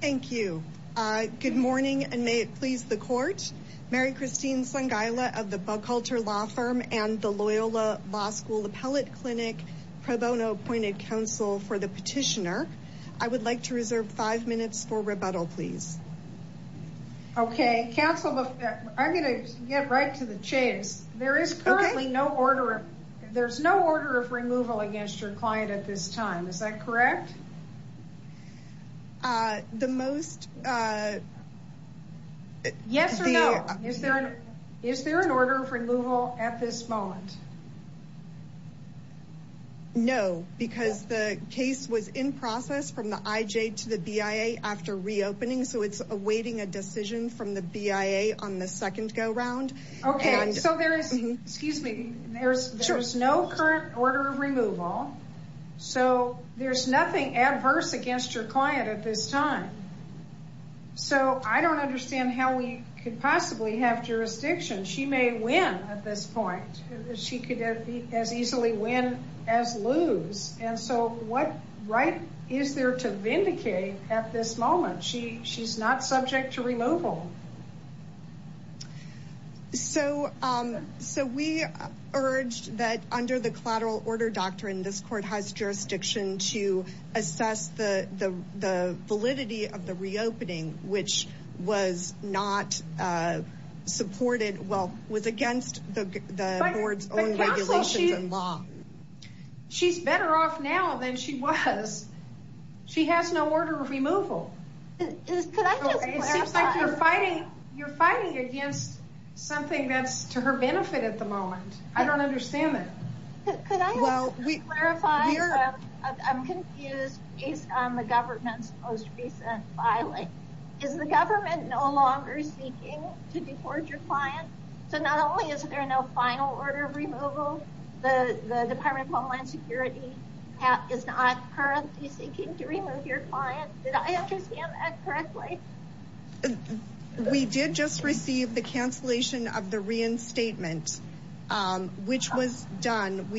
Thank you. Good morning and may it please the court. Mary Christine Sangaila of the Bughalter Law Firm and the Loyola Law School Appellate Clinic pro bono appointed counsel for the petitioner. I would like to reserve five minutes for rebuttal please. Okay counsel, I'm gonna get right to the chase. There is currently no order, there's no order of removal against your client at this time is that correct? Yes or no? Is there an order for removal at this moment? No because the case was in process from the IJ to the BIA after reopening so it's awaiting a decision from the BIA on the second go-round. Okay so there is, excuse me, there's nothing adverse against your client at this time so I don't understand how we could possibly have jurisdiction. She may win at this point. She could as easily win as lose and so what right is there to vindicate at this moment? She's not subject to removal. So we urged that under the collateral order doctrine this court has jurisdiction to assess the validity of the reopening which was not supported, well was against the board's own regulations and law. She's better off now than she was. She has no order of removal. You're fighting against something that's to her benefit at the moment. I don't understand that. Could I clarify? I'm confused based on the government's most recent filing. Is the government no longer seeking to deport your client? So not only is there no final order of removal, the Department of Homeland Security is not currently seeking to remove your client. Did I understand that correctly? We did just receive the we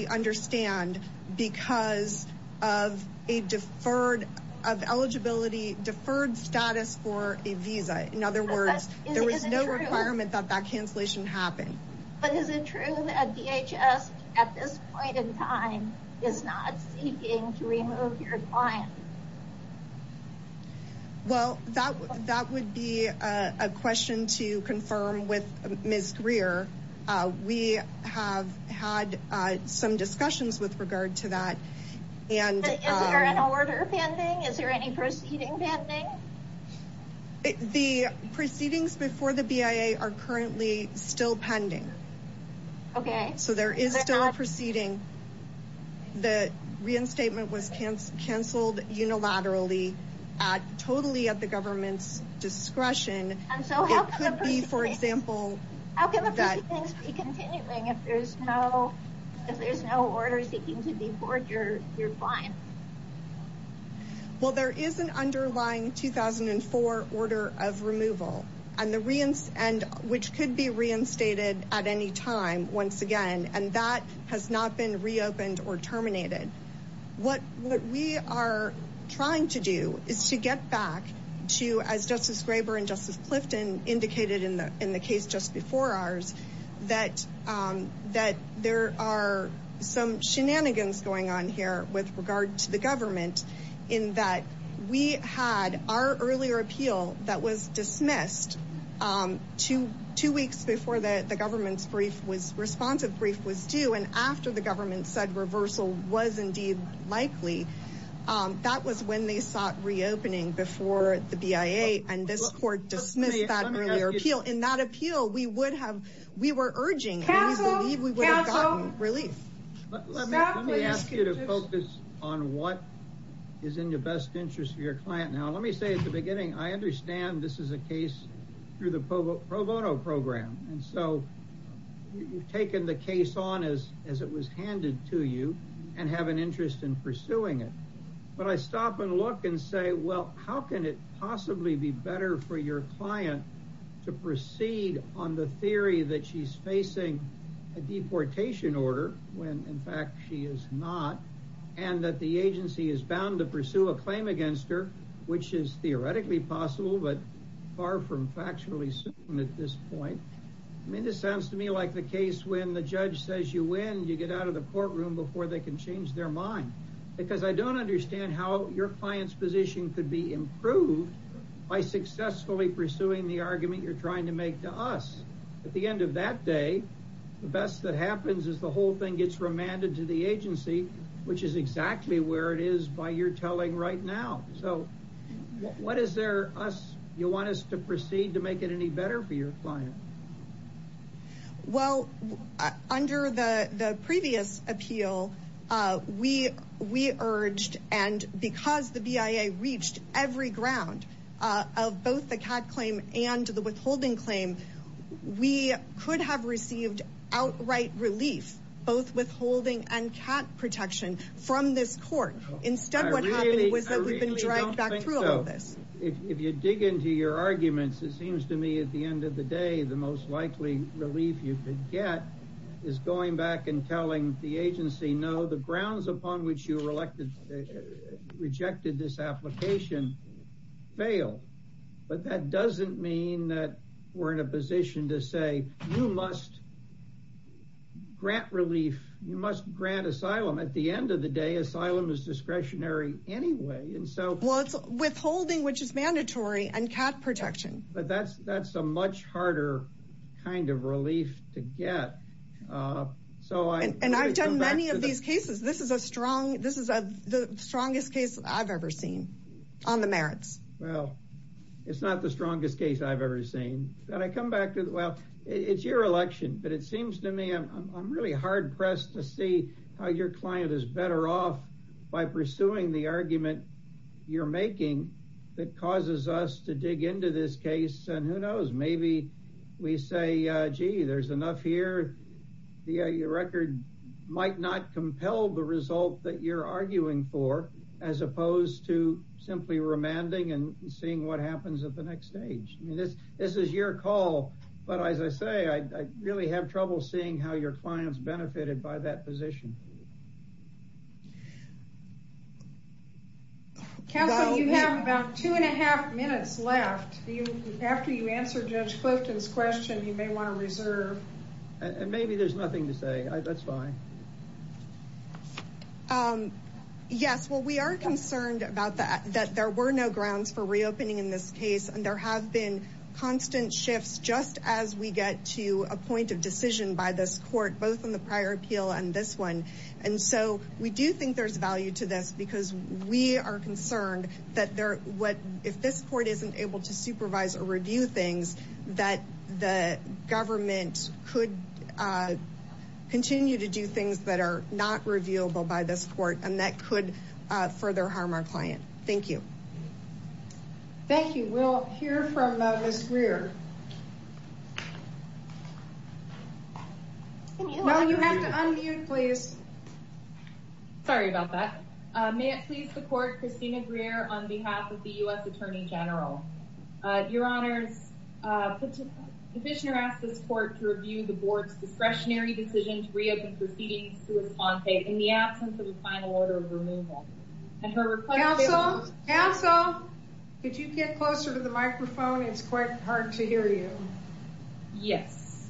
understand because of a deferred of eligibility, deferred status for a visa. In other words, there was no requirement that that cancellation happen. But is it true that DHS at this point in time is not seeking to remove your client? Well that would be a question to confirm with Ms. Greer. We have had some discussions with regard to that. Is there an order pending? Is there any proceeding pending? The proceedings before the BIA are currently still pending. Okay. So there is still a proceeding. The reinstatement was canceled unilaterally at totally at the government's discretion. And so it could be, for example. How can the proceedings be continuing if there's no order seeking to deport your client? Well, there is an underlying 2004 order of removal, which could be reinstated at any time once again, and that has not been reopened or terminated. What we are trying to do is to get back to, as Justice Graber and Justice Clifton indicated in the case just before ours, that there are some shenanigans going on here with regard to the government. In that we had our earlier appeal that was dismissed two weeks before the government's brief was responsive, brief was due, and after the government said reversal was indeed likely, that was when they sought reopening before the BIA and this court dismissed that earlier appeal. In that appeal, we would have, we were urging and we believe we would have gotten relief. Let me ask you to focus on what is in your best interest for your client. Now, let me say at the beginning, I understand this is a case through the pro bono program. And so you've taken the case on as it was handed to you and have an interest in pursuing it. But I stop and look and say, well, how can it possibly be better for your client to proceed on the theory that she's facing a deportation order, when in fact she is not, and that the agency is bound to pursue a claim against her, which is theoretically possible, but far from factually certain at this point. I mean, this sounds to me like the case when the judge says you win, you get out of the courtroom before they can change their mind. Because I don't understand how your client's position could be improved by successfully pursuing the argument you're trying to make to us. At the end of that day, the best that happens is the whole thing gets remanded to the agency, which is exactly where it is by your telling right now. So what is there, you want us to proceed to make it any better for your client? Well, under the previous appeal, we urged, and because the BIA reached every ground of both the cat claim and the withholding claim, we could have received outright relief, both withholding and cat protection, from this court. I really don't think so. If you dig into your arguments, it seems to me at the end of the day, the most likely relief you could get is going back and telling the agency, no, the grounds upon which you rejected this application failed. But that doesn't mean that we're in a position to say, you must grant relief, you must grant asylum. At the end of the day, asylum is discretionary anyway. Well, it's withholding, which is mandatory, and cat protection. But that's a much harder kind of relief to get. And I've done many of these cases. This is the strongest case I've ever seen on the merits. Well, it's not the strongest case I've ever seen. And I come back to, well, it's your election, but it seems to me I'm really hard pressed to see how your client is better off by pursuing the argument you're making that causes us to dig into this case. And who knows, maybe we say, gee, there's enough here. Your record might not compel the result that you're arguing for, as opposed to simply remanding and seeing what happens at the next stage. This is your call. But as I say, I really have trouble seeing how your clients benefited by that position. Counsel, you have about two and a half minutes left. After you answer Judge Clifton's question, you may want to reserve. And maybe there's nothing to say. That's fine. Yes, well, we are concerned about that, that there were no grounds for reopening in this case. And there have been constant shifts just as we get to a point of decision by this court, both in the prior appeal and this one. And so we do think there's value to this because we are concerned that if this court isn't able to supervise or review things, that the government could continue to do things that are not reviewable by this court and that could further harm our client. Thank you. Thank you. We'll hear from Ms. Greer. No, you have to unmute, please. Sorry about that. May it please the court, Christina Greer on behalf of the U.S. Attorney General. Your Honors, the petitioner asked this court to review the board's discretionary decision to reopen proceedings to a sponte in the absence of a final order of removal. Counsel, counsel, could you get closer to the microphone? It's quite hard to hear you. Yes.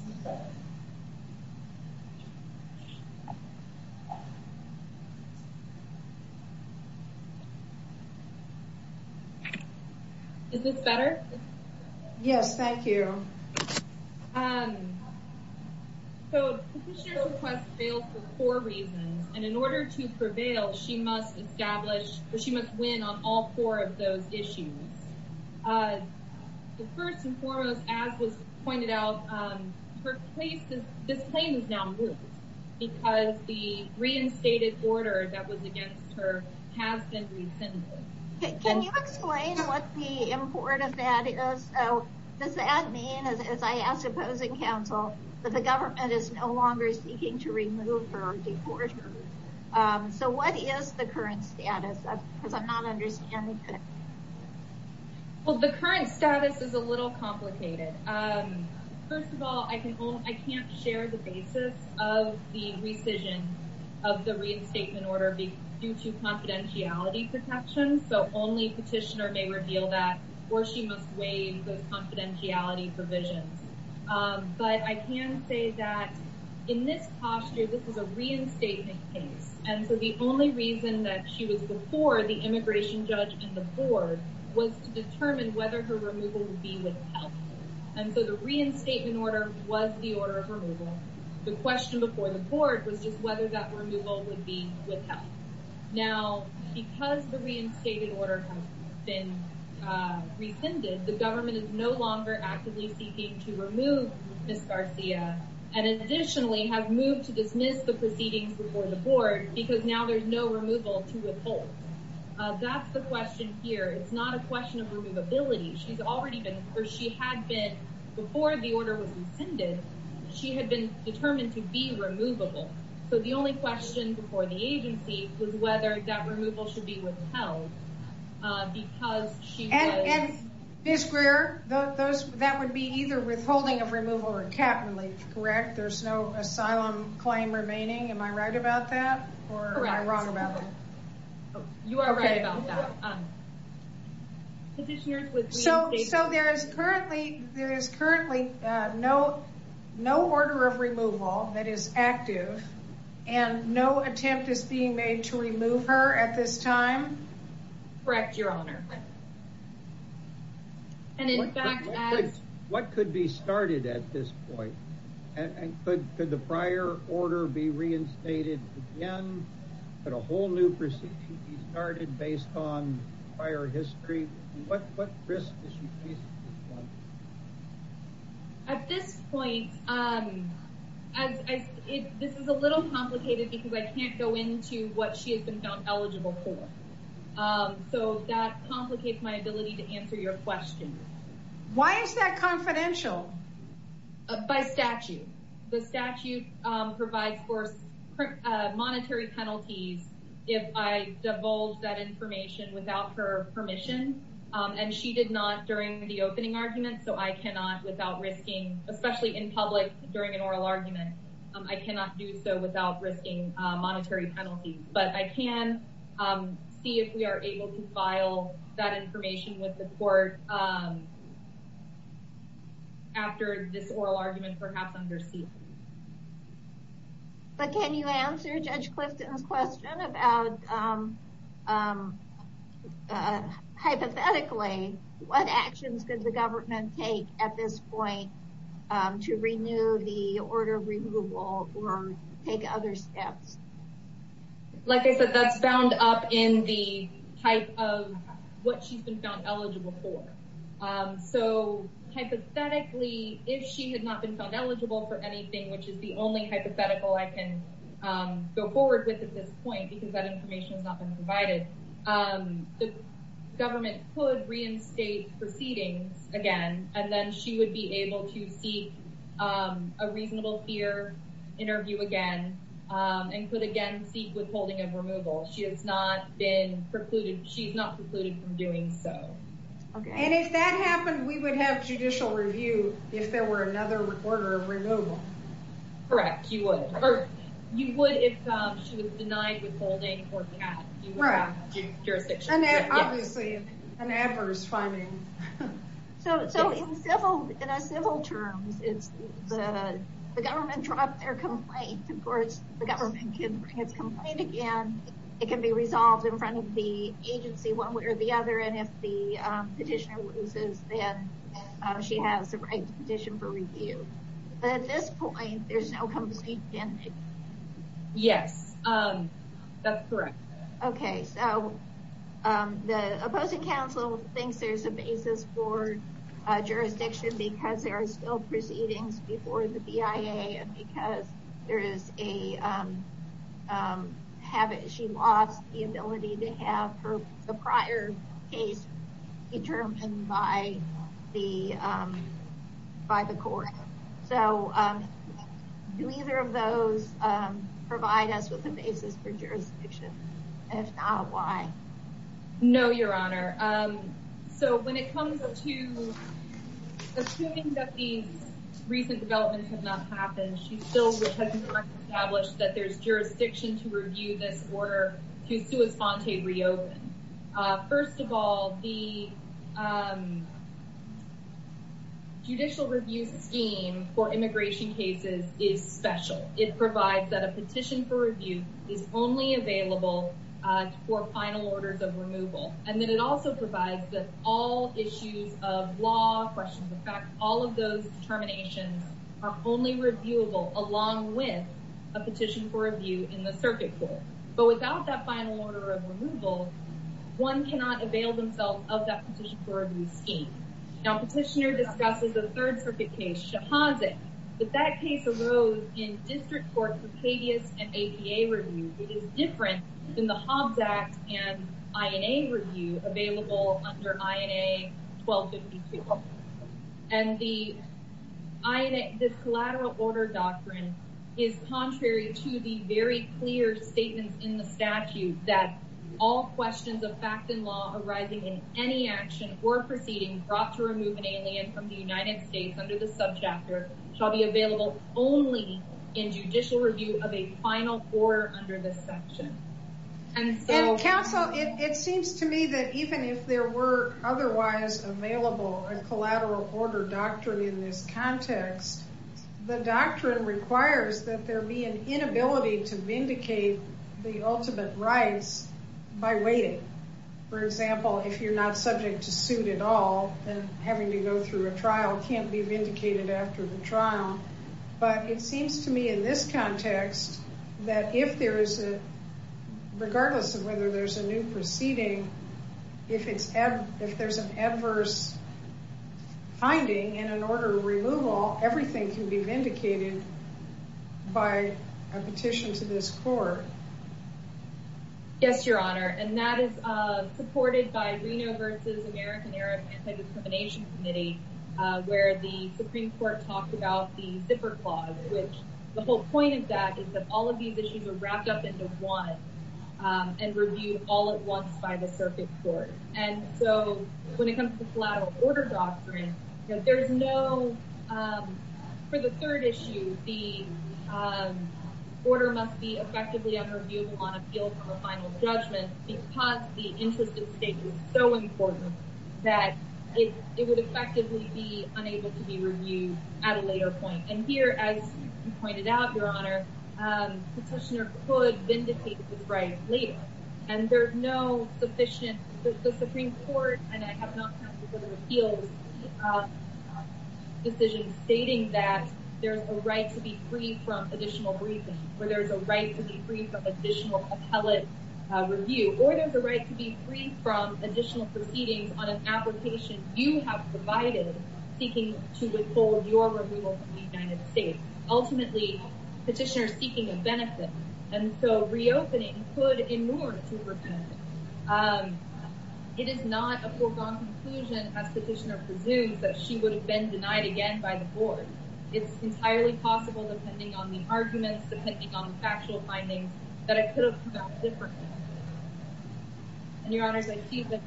Is this better? Yes, thank you. So the petitioner's request fails for four reasons. And in order to prevail, she must win on all four of those issues. First and foremost, as was pointed out, this claim is now moved because the reinstated order that was against her has been rescinded. Can you explain what the import of that is? Does that mean, as I ask opposing counsel, that the government is no longer seeking to remove her or deport her? So what is the current status? Because I'm not understanding. Well, the current status is a little complicated. First of all, I can't share the basis of the rescission of the reinstatement order due to confidentiality protections. So only petitioner may reveal that or she must waive those confidentiality provisions. But I can say that in this posture, this is a reinstatement case. And so the only reason that she was before the immigration judge and the board was to determine whether her removal would be withheld. And so the reinstatement order was the order of removal. The question before the court was just whether that removal would be withheld. Now, because the reinstated order has been rescinded, the government is no longer actively seeking to remove Ms. Garcia. And additionally, have moved to dismiss the proceedings before the board because now there's no removal to withhold. That's the question here. It's not a question of removability. She's already been or she had been before the order was rescinded. She had been determined to be removable. So the only question before the agency was whether that removal should be withheld. Because she and Ms. Greer, that would be either withholding of removal or cap and leave. Correct. There's no asylum claim remaining. Am I right about that or am I wrong about that? You are right about that. So so there is currently there is currently no no order of removal that is active. And no attempt is being made to remove her at this time. Correct, Your Honor. And in fact, what could be started at this point? And could the prior order be reinstated again? But a whole new procedure started based on prior history. What risk is she facing? At this point, this is a little complicated because I can't go into what she has been found eligible for. So that complicates my ability to answer your question. Why is that confidential? By statute, the statute provides for monetary penalties if I divulge that information without her permission. And she did not during the opening argument. So I cannot without risking, especially in public during an oral argument. I cannot do so without risking monetary penalties. But I can see if we are able to file that information with the court. After this oral argument, perhaps undersea. But can you answer Judge Clifton's question about hypothetically, what actions does the government take at this point to renew the order of removal or take other steps? Like I said, that's bound up in the type of what she's been found eligible for. So hypothetically, if she had not been found eligible for anything, which is the only hypothetical I can go forward with at this point, because that information has not been provided, the government could reinstate proceedings again. And then she would be able to seek a reasonable fear interview again and could again seek withholding of removal. She has not been precluded. She's not precluded from doing so. And if that happened, we would have judicial review if there were another order of removal. Correct. You would. Or you would if she was denied withholding or CAD. Right. Obviously, an adverse finding. So in civil terms, the government dropped their complaint. Of course, the government can bring its complaint again. It can be resolved in front of the agency one way or the other. And if the petitioner loses, then she has the right to petition for review. But at this point, there's no compensation. Yes, that's correct. OK, so the opposing counsel thinks there's a basis for jurisdiction because there are still proceedings before the BIA and because there is a habit. She lost the ability to have the prior case determined by the by the court. So do either of those provide us with a basis for jurisdiction? If not, why? No, Your Honor. So when it comes to assuming that these recent developments have not happened, she still has established that there's jurisdiction to review this order to respond to reopen. First of all, the judicial review scheme for immigration cases is special. It provides that a petition for review is only available for final orders of removal. And then it also provides that all issues of law questions. In fact, all of those terminations are only reviewable along with a petition for review in the circuit pool. But without that final order of removal, one cannot avail themselves of that petition for review scheme. Now, petitioner discusses a third circuit case, Shahadzek. But that case arose in district court precadence and APA review. It is different than the Hobbs Act and INA review available under INA 1252. And the INA, this collateral order doctrine is contrary to the very clear statements in the statute that all questions of fact and law arising in any action or proceeding brought to remove an alien from the United States under the subchapter shall be available only in judicial review of a final order under this section. And counsel, it seems to me that even if there were otherwise available a collateral order doctrine in this context, the doctrine requires that there be an inability to vindicate the ultimate rights by waiting. For example, if you're not subject to suit at all, then having to go through a trial can't be vindicated after the trial. But it seems to me in this context that if there is a, regardless of whether there's a new proceeding, if there's an adverse finding in an order of removal, everything can be vindicated by a petition to this court. Yes, Your Honor. And that is supported by Reno versus American Arab Anti-Discrimination Committee, where the Supreme Court talked about the zipper clause, which the whole point of that is that all of these issues are wrapped up into one and reviewed all at once by the circuit court. And so when it comes to collateral order doctrine, there's no, for the third issue, the order must be effectively unreviewed on appeal for a final judgment because the interest at stake is so important that it would effectively be unable to be reviewed at a later point. And here, as you pointed out, Your Honor, petitioner could vindicate this right later. And there's no sufficient, the Supreme Court, and I have not had to go to appeals, decision stating that there's a right to be free from additional briefing, where there's a right to be free from additional appellate review, or there's a right to be free from additional proceedings on an application you have provided seeking to withhold your removal from the United States. Ultimately, petitioner is seeking a benefit. And so reopening could inure to repent. It is not a foregone conclusion, as petitioner presumes, that she would have been denied again by the board. It's entirely possible, depending on the arguments, depending on the factual findings, that it could have come out differently. And Your Honors, I see that.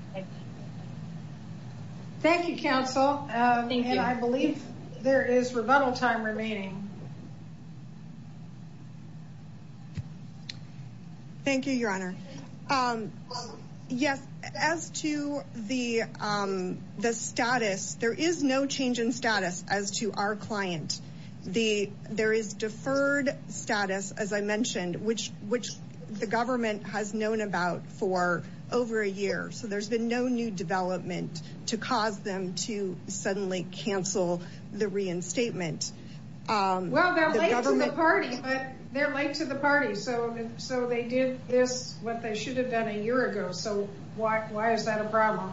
Thank you, counsel. And I believe there is rebuttal time remaining. Thank you, Your Honor. Yes, as to the status, there is no change in status as to our client. There is deferred status, as I mentioned, which the government has known about for over a year. So there's been no new development to cause them to suddenly cancel the reinstatement. Well, they're late to the party, but they're late to the party. So they did this, what they should have done a year ago. So why is that a problem?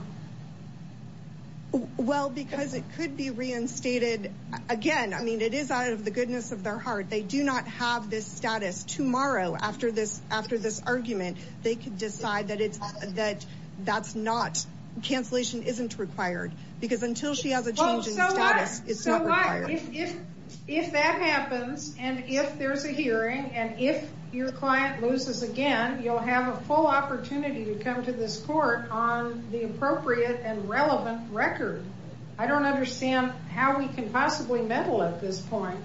Well, because it could be reinstated again. I mean, it is out of the goodness of their heart. They do not have this status tomorrow after this after this argument. They could decide that it's that that's not cancellation isn't required because until she has a change in status, it's not required. If that happens and if there's a hearing and if your client loses again, you'll have a full opportunity to come to this court on the appropriate and relevant record. I don't understand how we can possibly meddle at this point,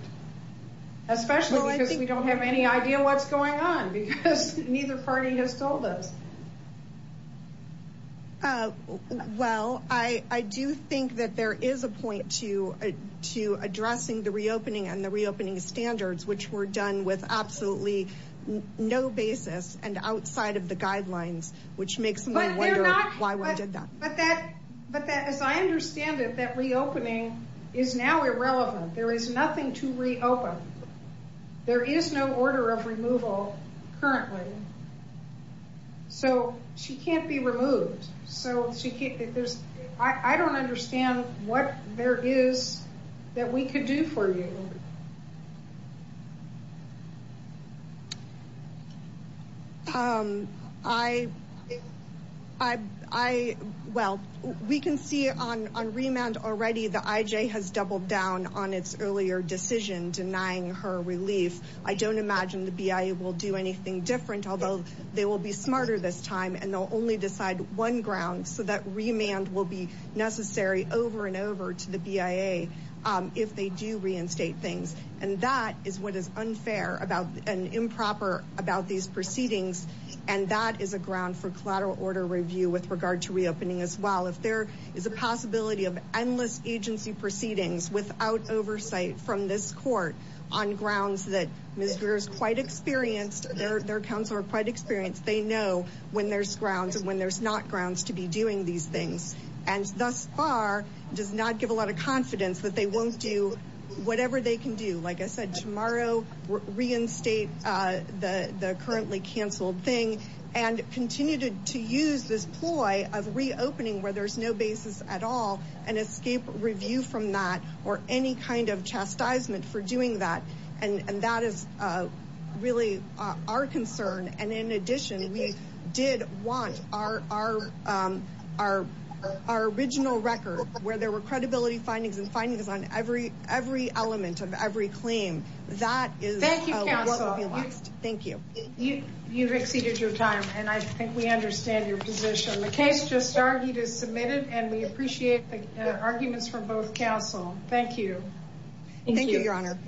especially because we don't have any idea what's going on because neither party has told us. Well, I do think that there is a point to to addressing the reopening and the reopening standards, which were done with absolutely no basis and outside of the guidelines, which makes me wonder why we did that. But that but that, as I understand it, that reopening is now irrelevant. There is nothing to reopen. There is no order of removal currently. So she can't be removed. So she can't. I don't understand what there is that we could do for you. I, I, I, well, we can see on on remand already, the IJ has doubled down on its earlier decision denying her relief. I don't imagine the BIA will do anything different, although they will be smarter this time and they'll only decide one ground so that remand will be necessary over and over to the BIA if they do reinstate things. And that is what is unfair about an improper about these proceedings. And that is a ground for collateral order review with regard to reopening as well. If there is a possibility of endless agency proceedings without oversight from this court on grounds that Mr. is quite experienced. Their accounts are quite experienced. They know when there's grounds and when there's not grounds to be doing these things. And thus far, does not give a lot of confidence that they won't do whatever they can do. Like I said, tomorrow, reinstate the currently canceled thing and continue to use this ploy of reopening where there's no basis at all and escape review from that or any kind of chastisement for doing that. And that is really our concern. And in addition, we did want our our our our original record where there were credibility findings and findings on every every element of every claim. That is what we want. Thank you. You've exceeded your time and I think we understand your position. The case just started is submitted and we appreciate the arguments from both counsel. Thank you. Thank you, Your Honor.